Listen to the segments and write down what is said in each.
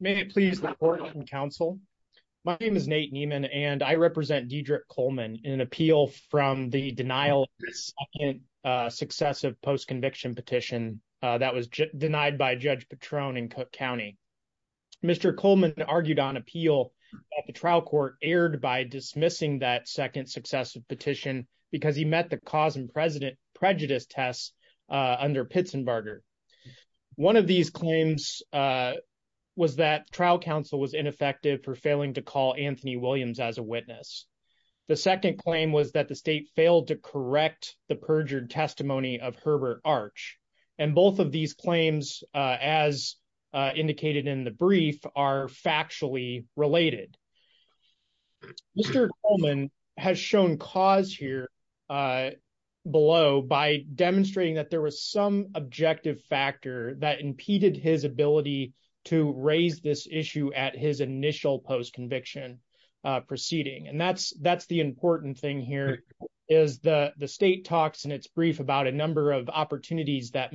May it please the court and counsel. My name is Nate Nieman and I represent Diedrich Coleman in an appeal from the denial of the second successive post-conviction petition that was denied by Judge Patron in Cook County. Mr. Coleman argued on appeal at the trial court, aired by dismissing that second successive petition because he met the cause and prejudice test under Pitsenbarger. One of these claims was that trial counsel was ineffective for failing to call Anthony Williams as a witness. The second claim was that the state failed to correct the perjured testimony of Herbert Arch and both of these claims as indicated in the brief are factually related. Mr. Coleman has shown cause here below by demonstrating that there was some objective factor that impeded his ability to raise this issue at his initial post-conviction proceeding and that's the important thing here is the state talks in its brief about a number of rule is that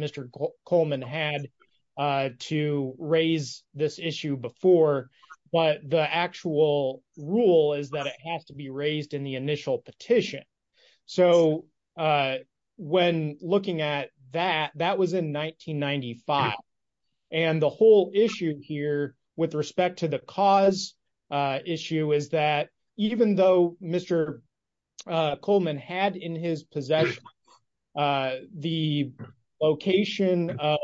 it has to be raised in the initial petition. So when looking at that, that was in 1995 and the whole issue here with respect to the cause issue is that even though Mr. Coleman had in his possession the location of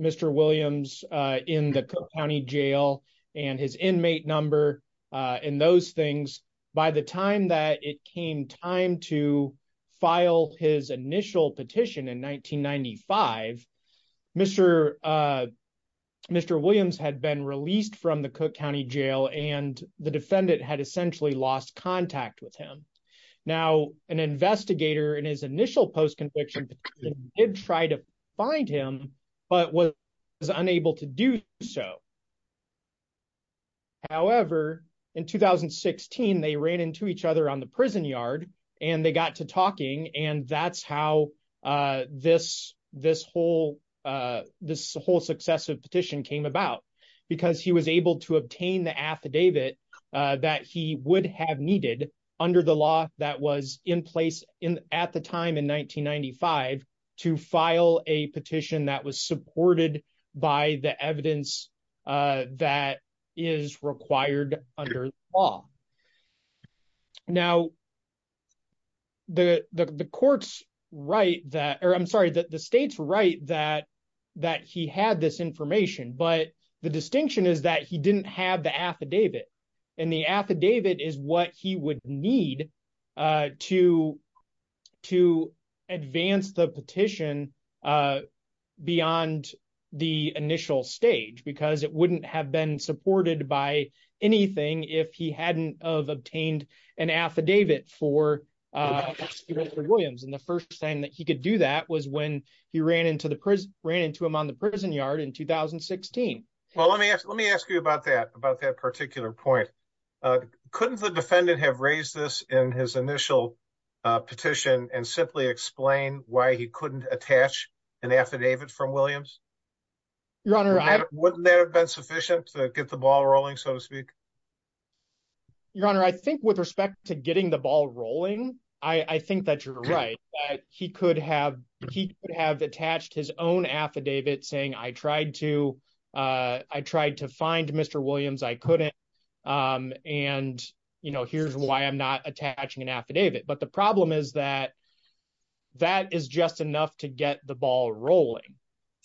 Mr. Williams in the Cook County jail and his inmate number and those things, by the time that it came time to file his initial petition in 1995, Mr. Williams had been released from the Cook County jail and the defendant had essentially lost contact with him. Now an investigator in his initial post-conviction did try to find him but was unable to do so. However, in 2016, they ran into each other on the prison yard and they got to talking and that's how this whole successive petition came about because he was able to obtain the affidavit that he would have needed under the law that was in time in 1995 to file a petition that was supported by the evidence that is required under the law. Now the court's right that or I'm sorry that the state's right that that he had this information but the distinction is that he didn't have the affidavit and the affidavit is what he would need to advance the petition beyond the initial stage because it wouldn't have been supported by anything if he hadn't obtained an affidavit for Mr. Williams and the first time that he could do that was when he ran into him on the prison yard in 2016. Well let me ask you about that particular point. Couldn't the defendant have raised this in his initial petition and simply explain why he couldn't attach an affidavit from Williams? Your honor, wouldn't that have been sufficient to get the ball rolling so to speak? Your honor, I think with respect to getting the ball rolling, I think that you're right. He could have attached his own affidavit saying I tried to find Mr. Williams, I couldn't and you know here's why I'm not attaching an affidavit but the problem is that that is just enough to get the ball rolling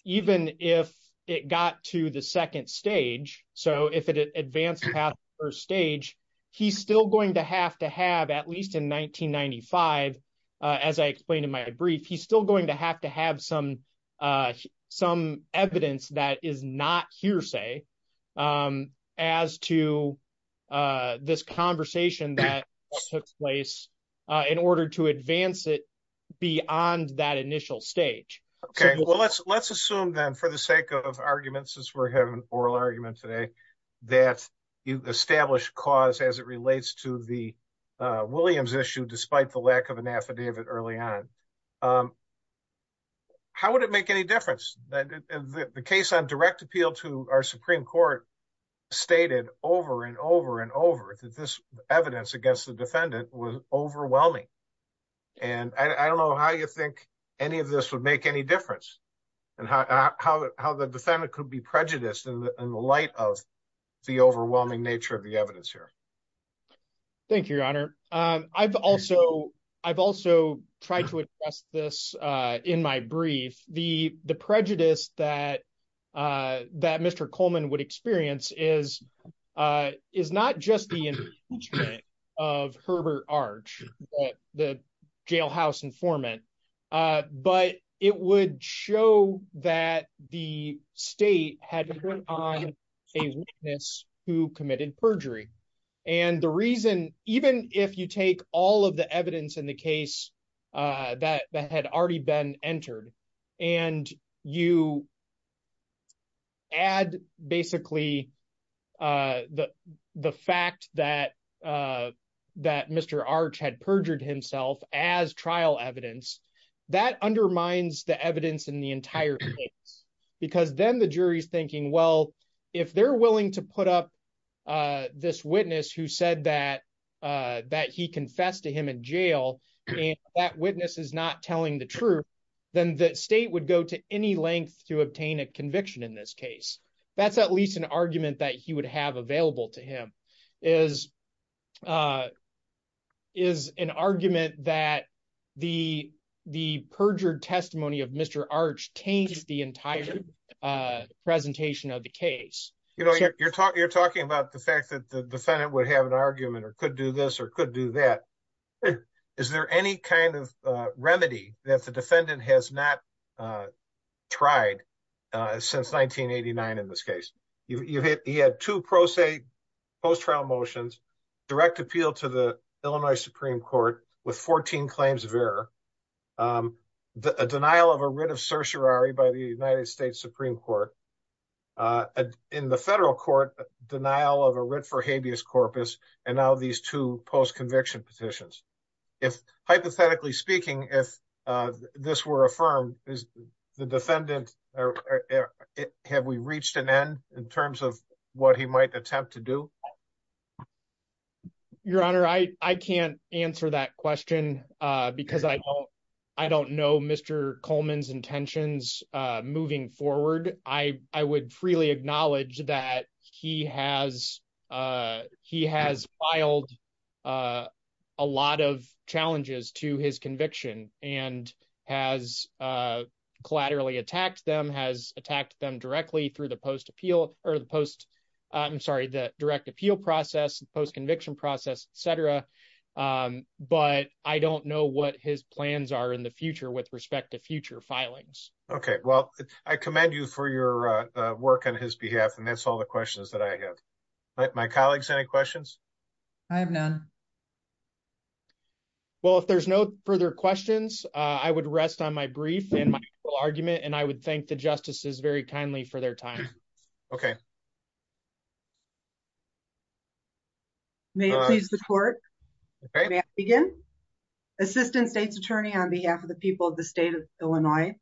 even if it got to the second stage. So if it advanced past the first stage, he's still going to have to have at least in 1995 as I explained in my brief, he's still going to have to have some evidence that is not hearsay as to this conversation that took place in order to advance it beyond that initial stage. Okay, well let's assume then for the sake of argument since we're having an oral argument today that you established cause as it relates to the Williams issue despite the lack of an affidavit early on. How would it make any difference that the case on direct appeal to our supreme court stated over and over and over that this evidence against the defendant was overwhelming and I don't know how you think any of this would make any difference and how the defendant could be prejudiced in the light of the overwhelming nature of the evidence here. Thank you, your honor. I've also tried to address this in my brief. The prejudice that Mr. Coleman would experience is not just the impeachment of Herbert Arch, the jailhouse informant, but it would show that the state had to put on a witness who committed perjury and the reason even if you take all of the evidence in the case that had already been entered and you add basically the fact that Mr. Arch had perjured himself as trial evidence, that undermines the evidence in the entire case because then the jury's thinking well if they're willing to put up this witness who said that he confessed to him in jail and that witness is not telling the truth, then the state would go to any length to obtain a conviction in this case. That's at least an argument that he would have available to him is an argument that the perjured testimony of Mr. Arch taints the entire presentation of the case. You're talking about the fact that the defendant would have an argument or could do this or could do that. Is there any kind of remedy that the defendant has not tried since 1989 in this case? He had two pro se post-trial motions, direct appeal to the Illinois Supreme Court with 14 claims of error, a denial of a writ of certiorari by the United States Supreme Court, a in the federal court denial of a writ for habeas corpus, and now these two post-conviction petitions. If hypothetically speaking, if this were affirmed, is the defendant, have we reached an end in terms of what he might attempt to do? Your honor, I can't answer that question because I don't know Mr. Coleman's intentions moving forward. I would freely acknowledge that he has filed a lot of challenges to his conviction and has collaterally attacked them, has attacked them directly through the direct appeal process, post-conviction process, etc. But I don't know what his plans are in the future with respect to future filings. Okay, well, I commend you for your work on his behalf and that's all the questions that I have. My colleagues, any questions? I have none. Well, if there's no further questions, I would rest on my brief and my argument and I would thank the justices very kindly for their time. Okay. May it please the court. May I begin? Assistant State's Attorney on behalf of the people of the state of Illinois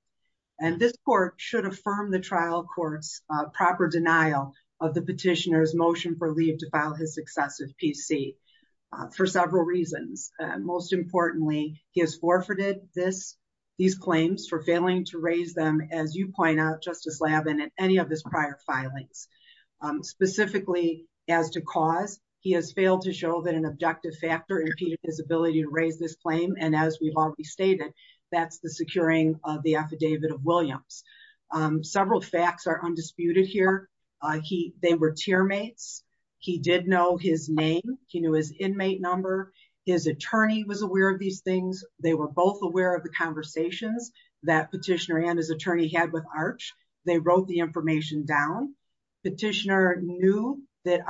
and this court should affirm the trial court's proper denial of the petitioner's motion for leave to file his successive PC for several reasons. Most importantly, he has forfeited these claims for failing to raise them as you point out, Justice Labin, in any of his prior filings. Specifically, as to cause, he has failed to that's the securing of the affidavit of Williams. Several facts are undisputed here. They were teammates. He did know his name. He knew his inmate number. His attorney was aware of these things. They were both aware of the conversations that petitioner and his attorney had with Arch. They wrote the information down. Petitioner knew that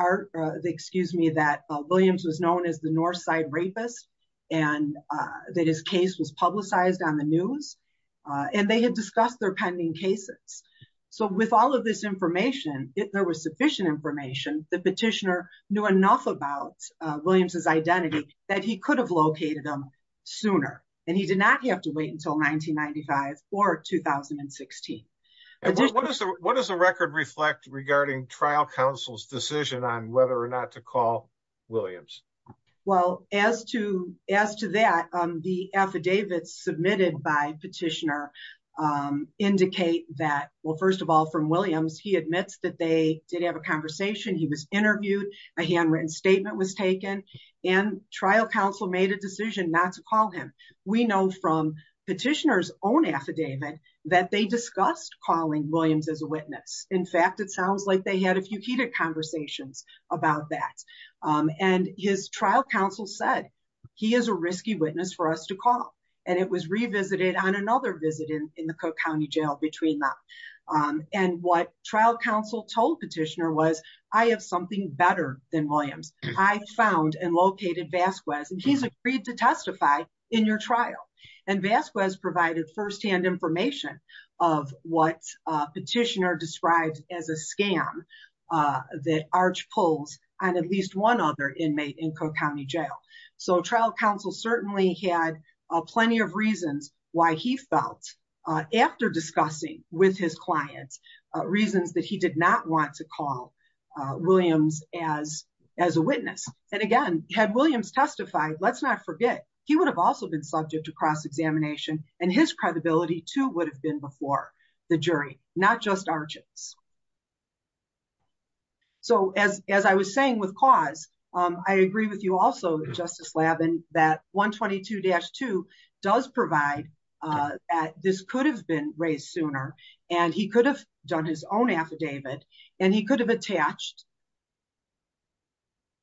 Williams was known as the on the news and they had discussed their pending cases. So, with all of this information, if there was sufficient information, the petitioner knew enough about Williams' identity that he could have located them sooner and he did not have to wait until 1995 or 2016. What does the record reflect regarding trial counsel's decision on whether or not to call Williams? The affidavits submitted by petitioner indicate that, well, first of all, from Williams, he admits that they did have a conversation. He was interviewed. A handwritten statement was taken and trial counsel made a decision not to call him. We know from petitioner's own affidavit that they discussed calling Williams as a witness. In fact, it sounds like they had a few heated about that. And his trial counsel said, he is a risky witness for us to call. And it was revisited on another visit in the Cook County Jail between them. And what trial counsel told petitioner was, I have something better than Williams. I found and located Vasquez and he's agreed to testify in your trial. And Vasquez provided firsthand information of what petitioner described as a scam that Arch pulls on at least one other inmate in Cook County Jail. So trial counsel certainly had plenty of reasons why he felt, after discussing with his clients, reasons that he did not want to call Williams as a witness. And again, had Williams testified, let's not forget, he would have also been subject to cross-examination and his credibility too would have been before the jury, not just Arch's. So as I was saying with cause, I agree with you also Justice Labin that 122-2 does provide, this could have been raised sooner and he could have done his own affidavit and he could have attached.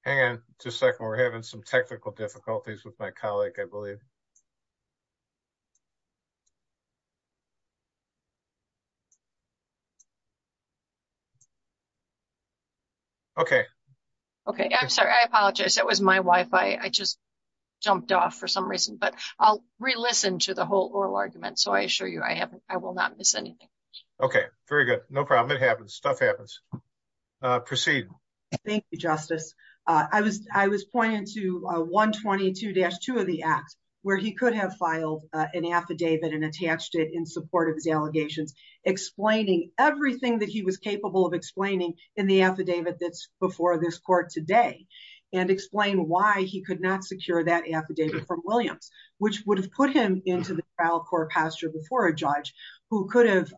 Hang on just a second. We're having some technical difficulties with my colleague, I believe. Okay. Okay. I'm sorry. I apologize. That was my Wi-Fi. I just jumped off for some reason, but I'll re-listen to the whole oral argument. So I assure you I haven't, I will not miss anything. Okay. Very good. No problem. It happens. Stuff happens. Proceed. Thank you, Justice. I was, pointing to 122-2 of the act where he could have filed an affidavit and attached it in support of his allegations, explaining everything that he was capable of explaining in the affidavit that's before this court today and explain why he could not secure that affidavit from Williams, which would have put him into the trial court posture before a judge who could have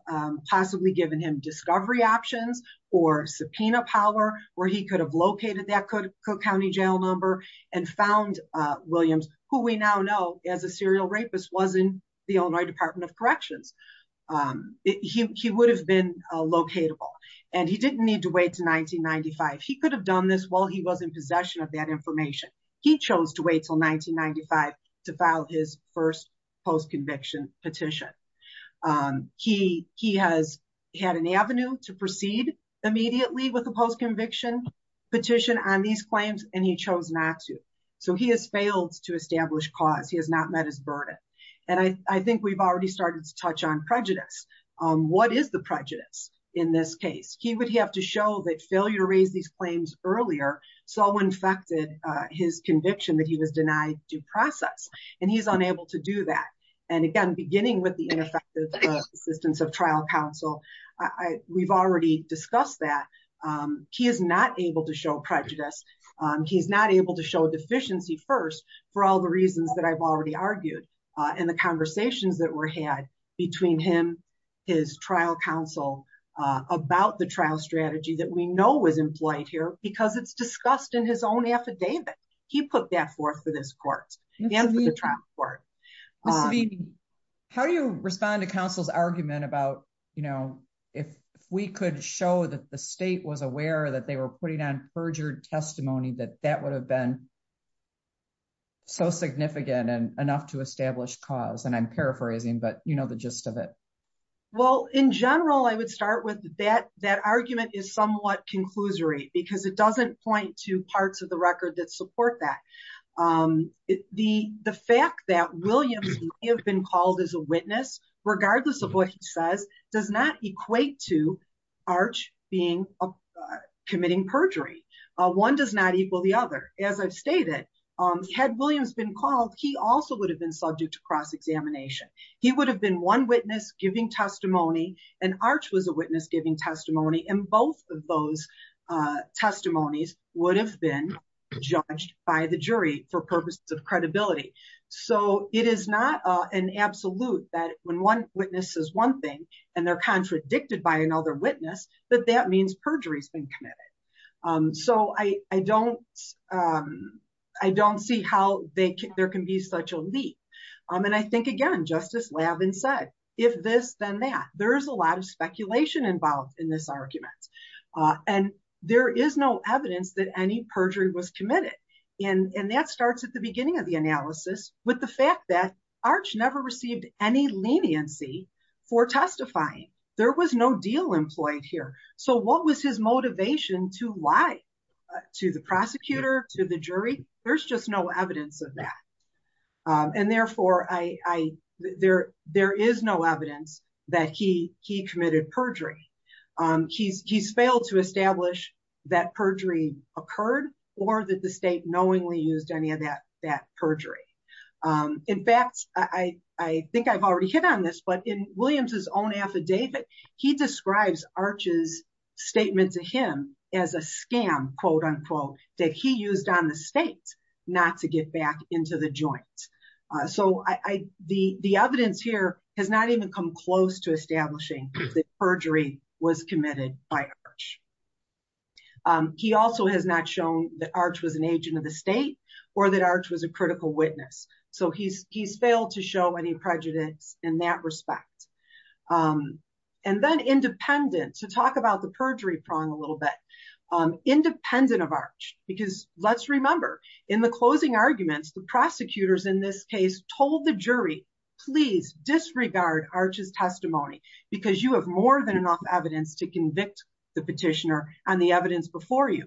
possibly given him discovery options or subpoena power where he could have located that Cook County jail number and found Williams, who we now know as a serial rapist, was in the Illinois Department of Corrections. He would have been locatable and he didn't need to wait to 1995. He could have done this while he was in possession of that information. He chose to wait until 1995 to file his first post-conviction petition. He has had an avenue to proceed immediately with a post-conviction petition on these claims and he chose not to. So he has failed to establish cause. He has not met his burden. And I think we've already started to touch on prejudice. What is the prejudice in this case? He would have to show that failure to raise these claims earlier so and again, beginning with the ineffective assistance of trial counsel. We've already discussed that. He is not able to show prejudice. He's not able to show deficiency first for all the reasons that I've already argued in the conversations that were had between him, his trial counsel about the trial strategy that we know was implied here because it's discussed in own affidavit. He put that forth for this court and for the trial court. How do you respond to counsel's argument about, you know, if we could show that the state was aware that they were putting on perjured testimony that that would have been so significant and enough to establish cause? And I'm paraphrasing, but you know the gist of it. Well, in general, I would start with that. That argument is somewhat conclusory because it doesn't point to parts of the record that support that. The fact that Williams may have been called as a witness, regardless of what he says, does not equate to Arch being committing perjury. One does not equal the other. As I've stated, had Williams been called, he also would have been subject to cross-examination. He would have been one witness giving testimony and Arch was a witness giving testimony. And both of those testimonies would have been judged by the jury for purposes of credibility. So it is not an absolute that when one witness says one thing and they're contradicted by another witness, that that means perjury has been committed. So I don't see how there can be such a leap. And I think, again, just as Lavin said, if this, then that. There is a lot of speculation involved in this argument. And there is no evidence that any perjury was committed. And that starts at the beginning of the analysis with the fact that Arch never received any leniency for testifying. There was no deal employed here. So what was his motivation to lie to the prosecutor, to the jury? There's just no evidence of that. And therefore, there is no evidence that he committed perjury. He's failed to establish that perjury occurred or that the state knowingly used any of that perjury. In fact, I think I've already hit on this, but in Williams' own affidavit, he describes Arch's statement to him as a scam, that he used on the state not to get back into the joint. So the evidence here has not even come close to establishing that perjury was committed by Arch. He also has not shown that Arch was an agent of the state or that Arch was a critical witness. So he's failed to show any prejudice in that respect. And then independent, to talk about the perjury prong a little bit, independent of Arch, because let's remember, in the closing arguments, the prosecutors in this case told the jury, please disregard Arch's testimony, because you have more than enough evidence to convict the petitioner on the evidence before you.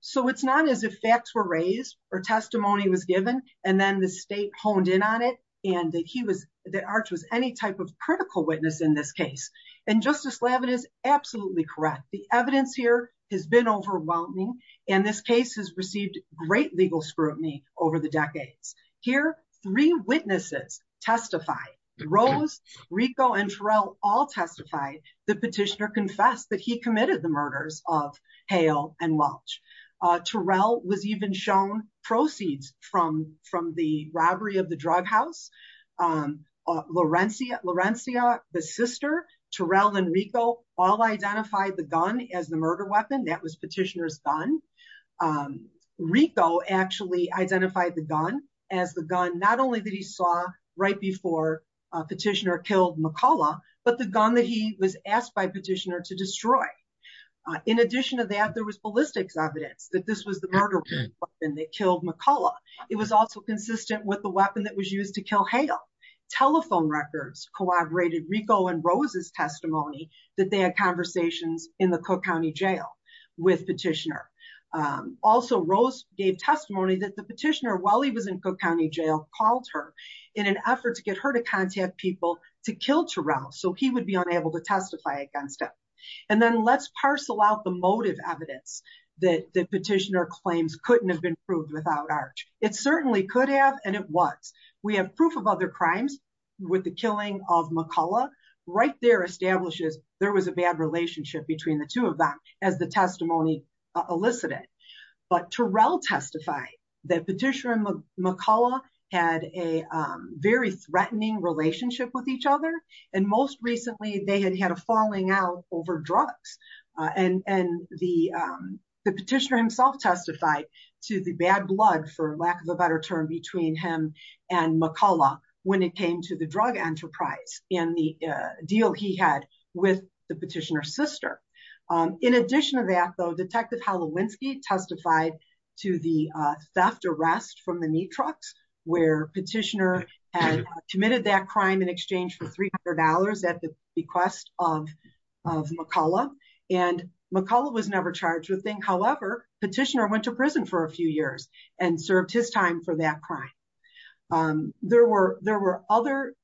So it's not as if facts were raised or testimony was given, and then the state honed in on it and that he was, that Arch was any type of critical witness in this case. And Justice Lavin is absolutely correct. The evidence here has been overwhelming, and this case has received great legal scrutiny over the decades. Here, three witnesses testified. Rose, Rico, and Terrell all testified. The petitioner confessed that he proceeds from the robbery of the drug house. Lorencia, the sister, Terrell and Rico all identified the gun as the murder weapon. That was petitioner's gun. Rico actually identified the gun as the gun, not only that he saw right before petitioner killed McCullough, but the gun that he was asked by petitioner to destroy. In addition to that, there was ballistics evidence that this murder weapon that killed McCullough. It was also consistent with the weapon that was used to kill Hale. Telephone records corroborated Rico and Rose's testimony that they had conversations in the Cook County Jail with petitioner. Also, Rose gave testimony that the petitioner, while he was in Cook County Jail, called her in an effort to get her to contact people to kill Terrell so he would be unable to testify against him. And then let's parcel out the motive evidence that the claims couldn't have been proved without Arch. It certainly could have, and it was. We have proof of other crimes with the killing of McCullough. Right there establishes there was a bad relationship between the two of them as the testimony elicited. But Terrell testified that petitioner and McCullough had a very threatening relationship with each other, and most recently they had had a falling out over drugs. And the petitioner himself testified to the bad blood, for lack of a better term, between him and McCullough when it came to the drug enterprise and the deal he had with the petitioner's sister. In addition to that, though, Detective Halewinski testified to the theft arrest from the Neatrox, where petitioner had committed that crime in exchange for $300 at the bequest of McCullough. And McCullough was never charged with anything. However, petitioner went to prison for a few years and served his time for that crime. There were other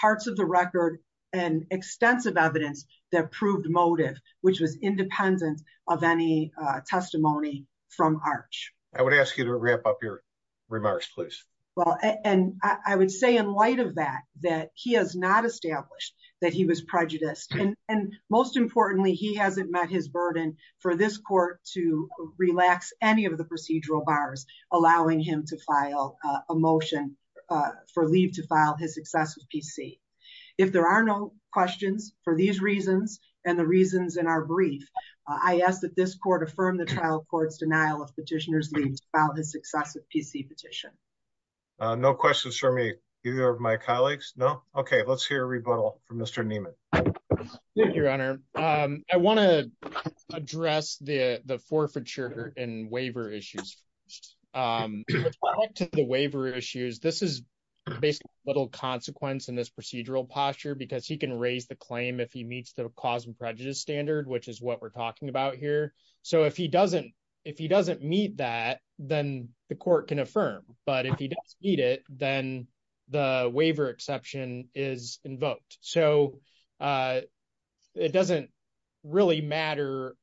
parts of the record and extensive evidence that proved motive, which was independent of any testimony from Arch. I would ask you to wrap up your remarks, please. Well, and I would say in light of that, that he has not established that he was prejudiced. And most importantly, he hasn't met his burden for this court to relax any of the procedural bars, allowing him to file a motion for leave to file his successive PC. If there are no questions for these reasons and the reasons in our brief, I ask that this court affirm the trial court's denial of petitioner's about his successive PC petition. No questions for me, either of my colleagues. No. Okay, let's hear a rebuttal from Mr. Neiman. Thank you, Your Honor. I want to address the the forfeiture and waiver issues. To the waiver issues. This is basically little consequence in this procedural posture because he can raise the claim if he meets the cause and prejudice standard, which is what we're talking about here. So if he doesn't, if he doesn't meet that, then the court can affirm. But if he doesn't meet it, then the waiver exception is invoked. So it doesn't really matter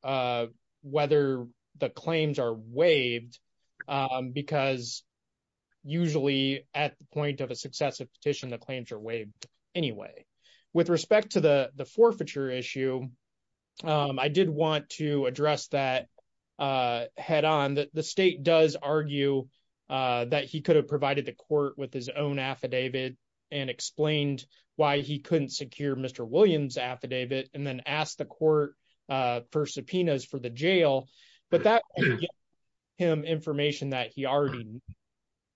whether the claims are waived. Because usually, at the point of a successive petition, claims are waived anyway. With respect to the forfeiture issue, I did want to address that head on that the state does argue that he could have provided the court with his own affidavit and explained why he couldn't secure Mr. Williams affidavit and then ask the court for subpoenas for the jail. But that him information that he already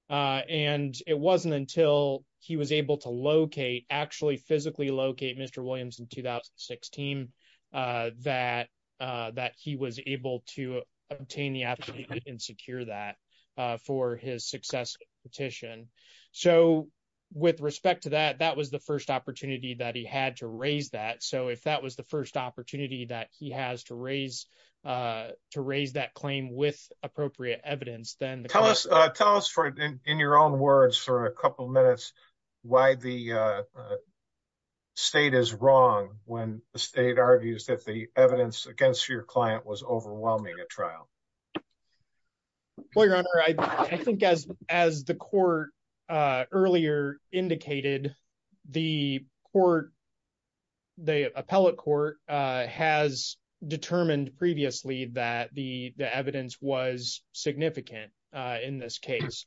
and it wasn't until he was able to locate actually physically locate Mr. Williams in 2016 that that he was able to obtain the affidavit and secure that for his successive petition. So with respect to that, that was the first opportunity that he had to raise that. So if that was the first opportunity that he has to raise to raise that claim with appropriate evidence, then tell us tell us for in your own words for a couple of minutes, why the state is wrong when the state argues that the evidence against your client was overwhelming at trial. Well, Your Honor, I think as as the court earlier indicated, the court, the appellate court has determined previously that the the evidence was significant in this case.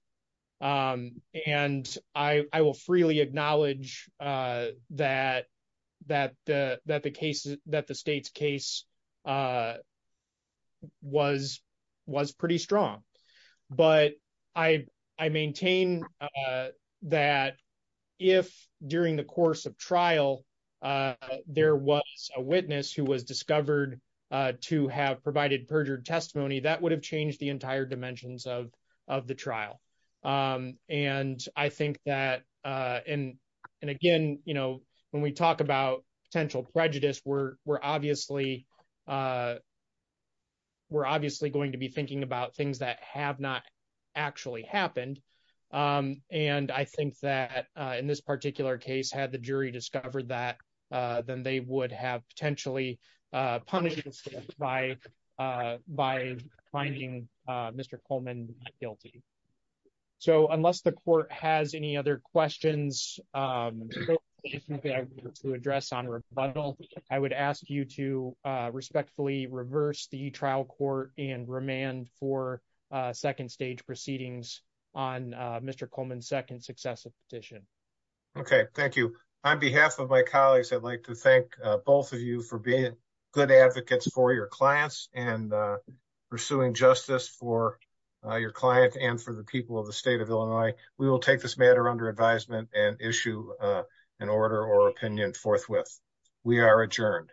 And I will freely acknowledge that that the that the case that the state's case was was pretty strong. But I I maintain that if during the course of trial, there was a witness who was discovered to have provided perjured testimony, that would have changed the entire dimensions of of the trial. And I think that and and again, you know, when we talk about potential prejudice, we're we're obviously we're obviously going to be thinking about things that have not actually happened. And I think that in this particular case, had the jury discovered that, then they would have potentially punished by finding Mr. Coleman guilty. So unless the court has any other questions, to address on rebuttal, I would ask you to respectfully reverse the trial court and remand for second stage proceedings on Mr. Coleman second successive petition. Okay, thank you. On behalf of my colleagues, I'd like to thank both of you for being good advocates for your clients and pursuing justice for your client and for the people of the state of Illinois, we will take this matter under advisement and issue an order or opinion forthwith. We are adjourned.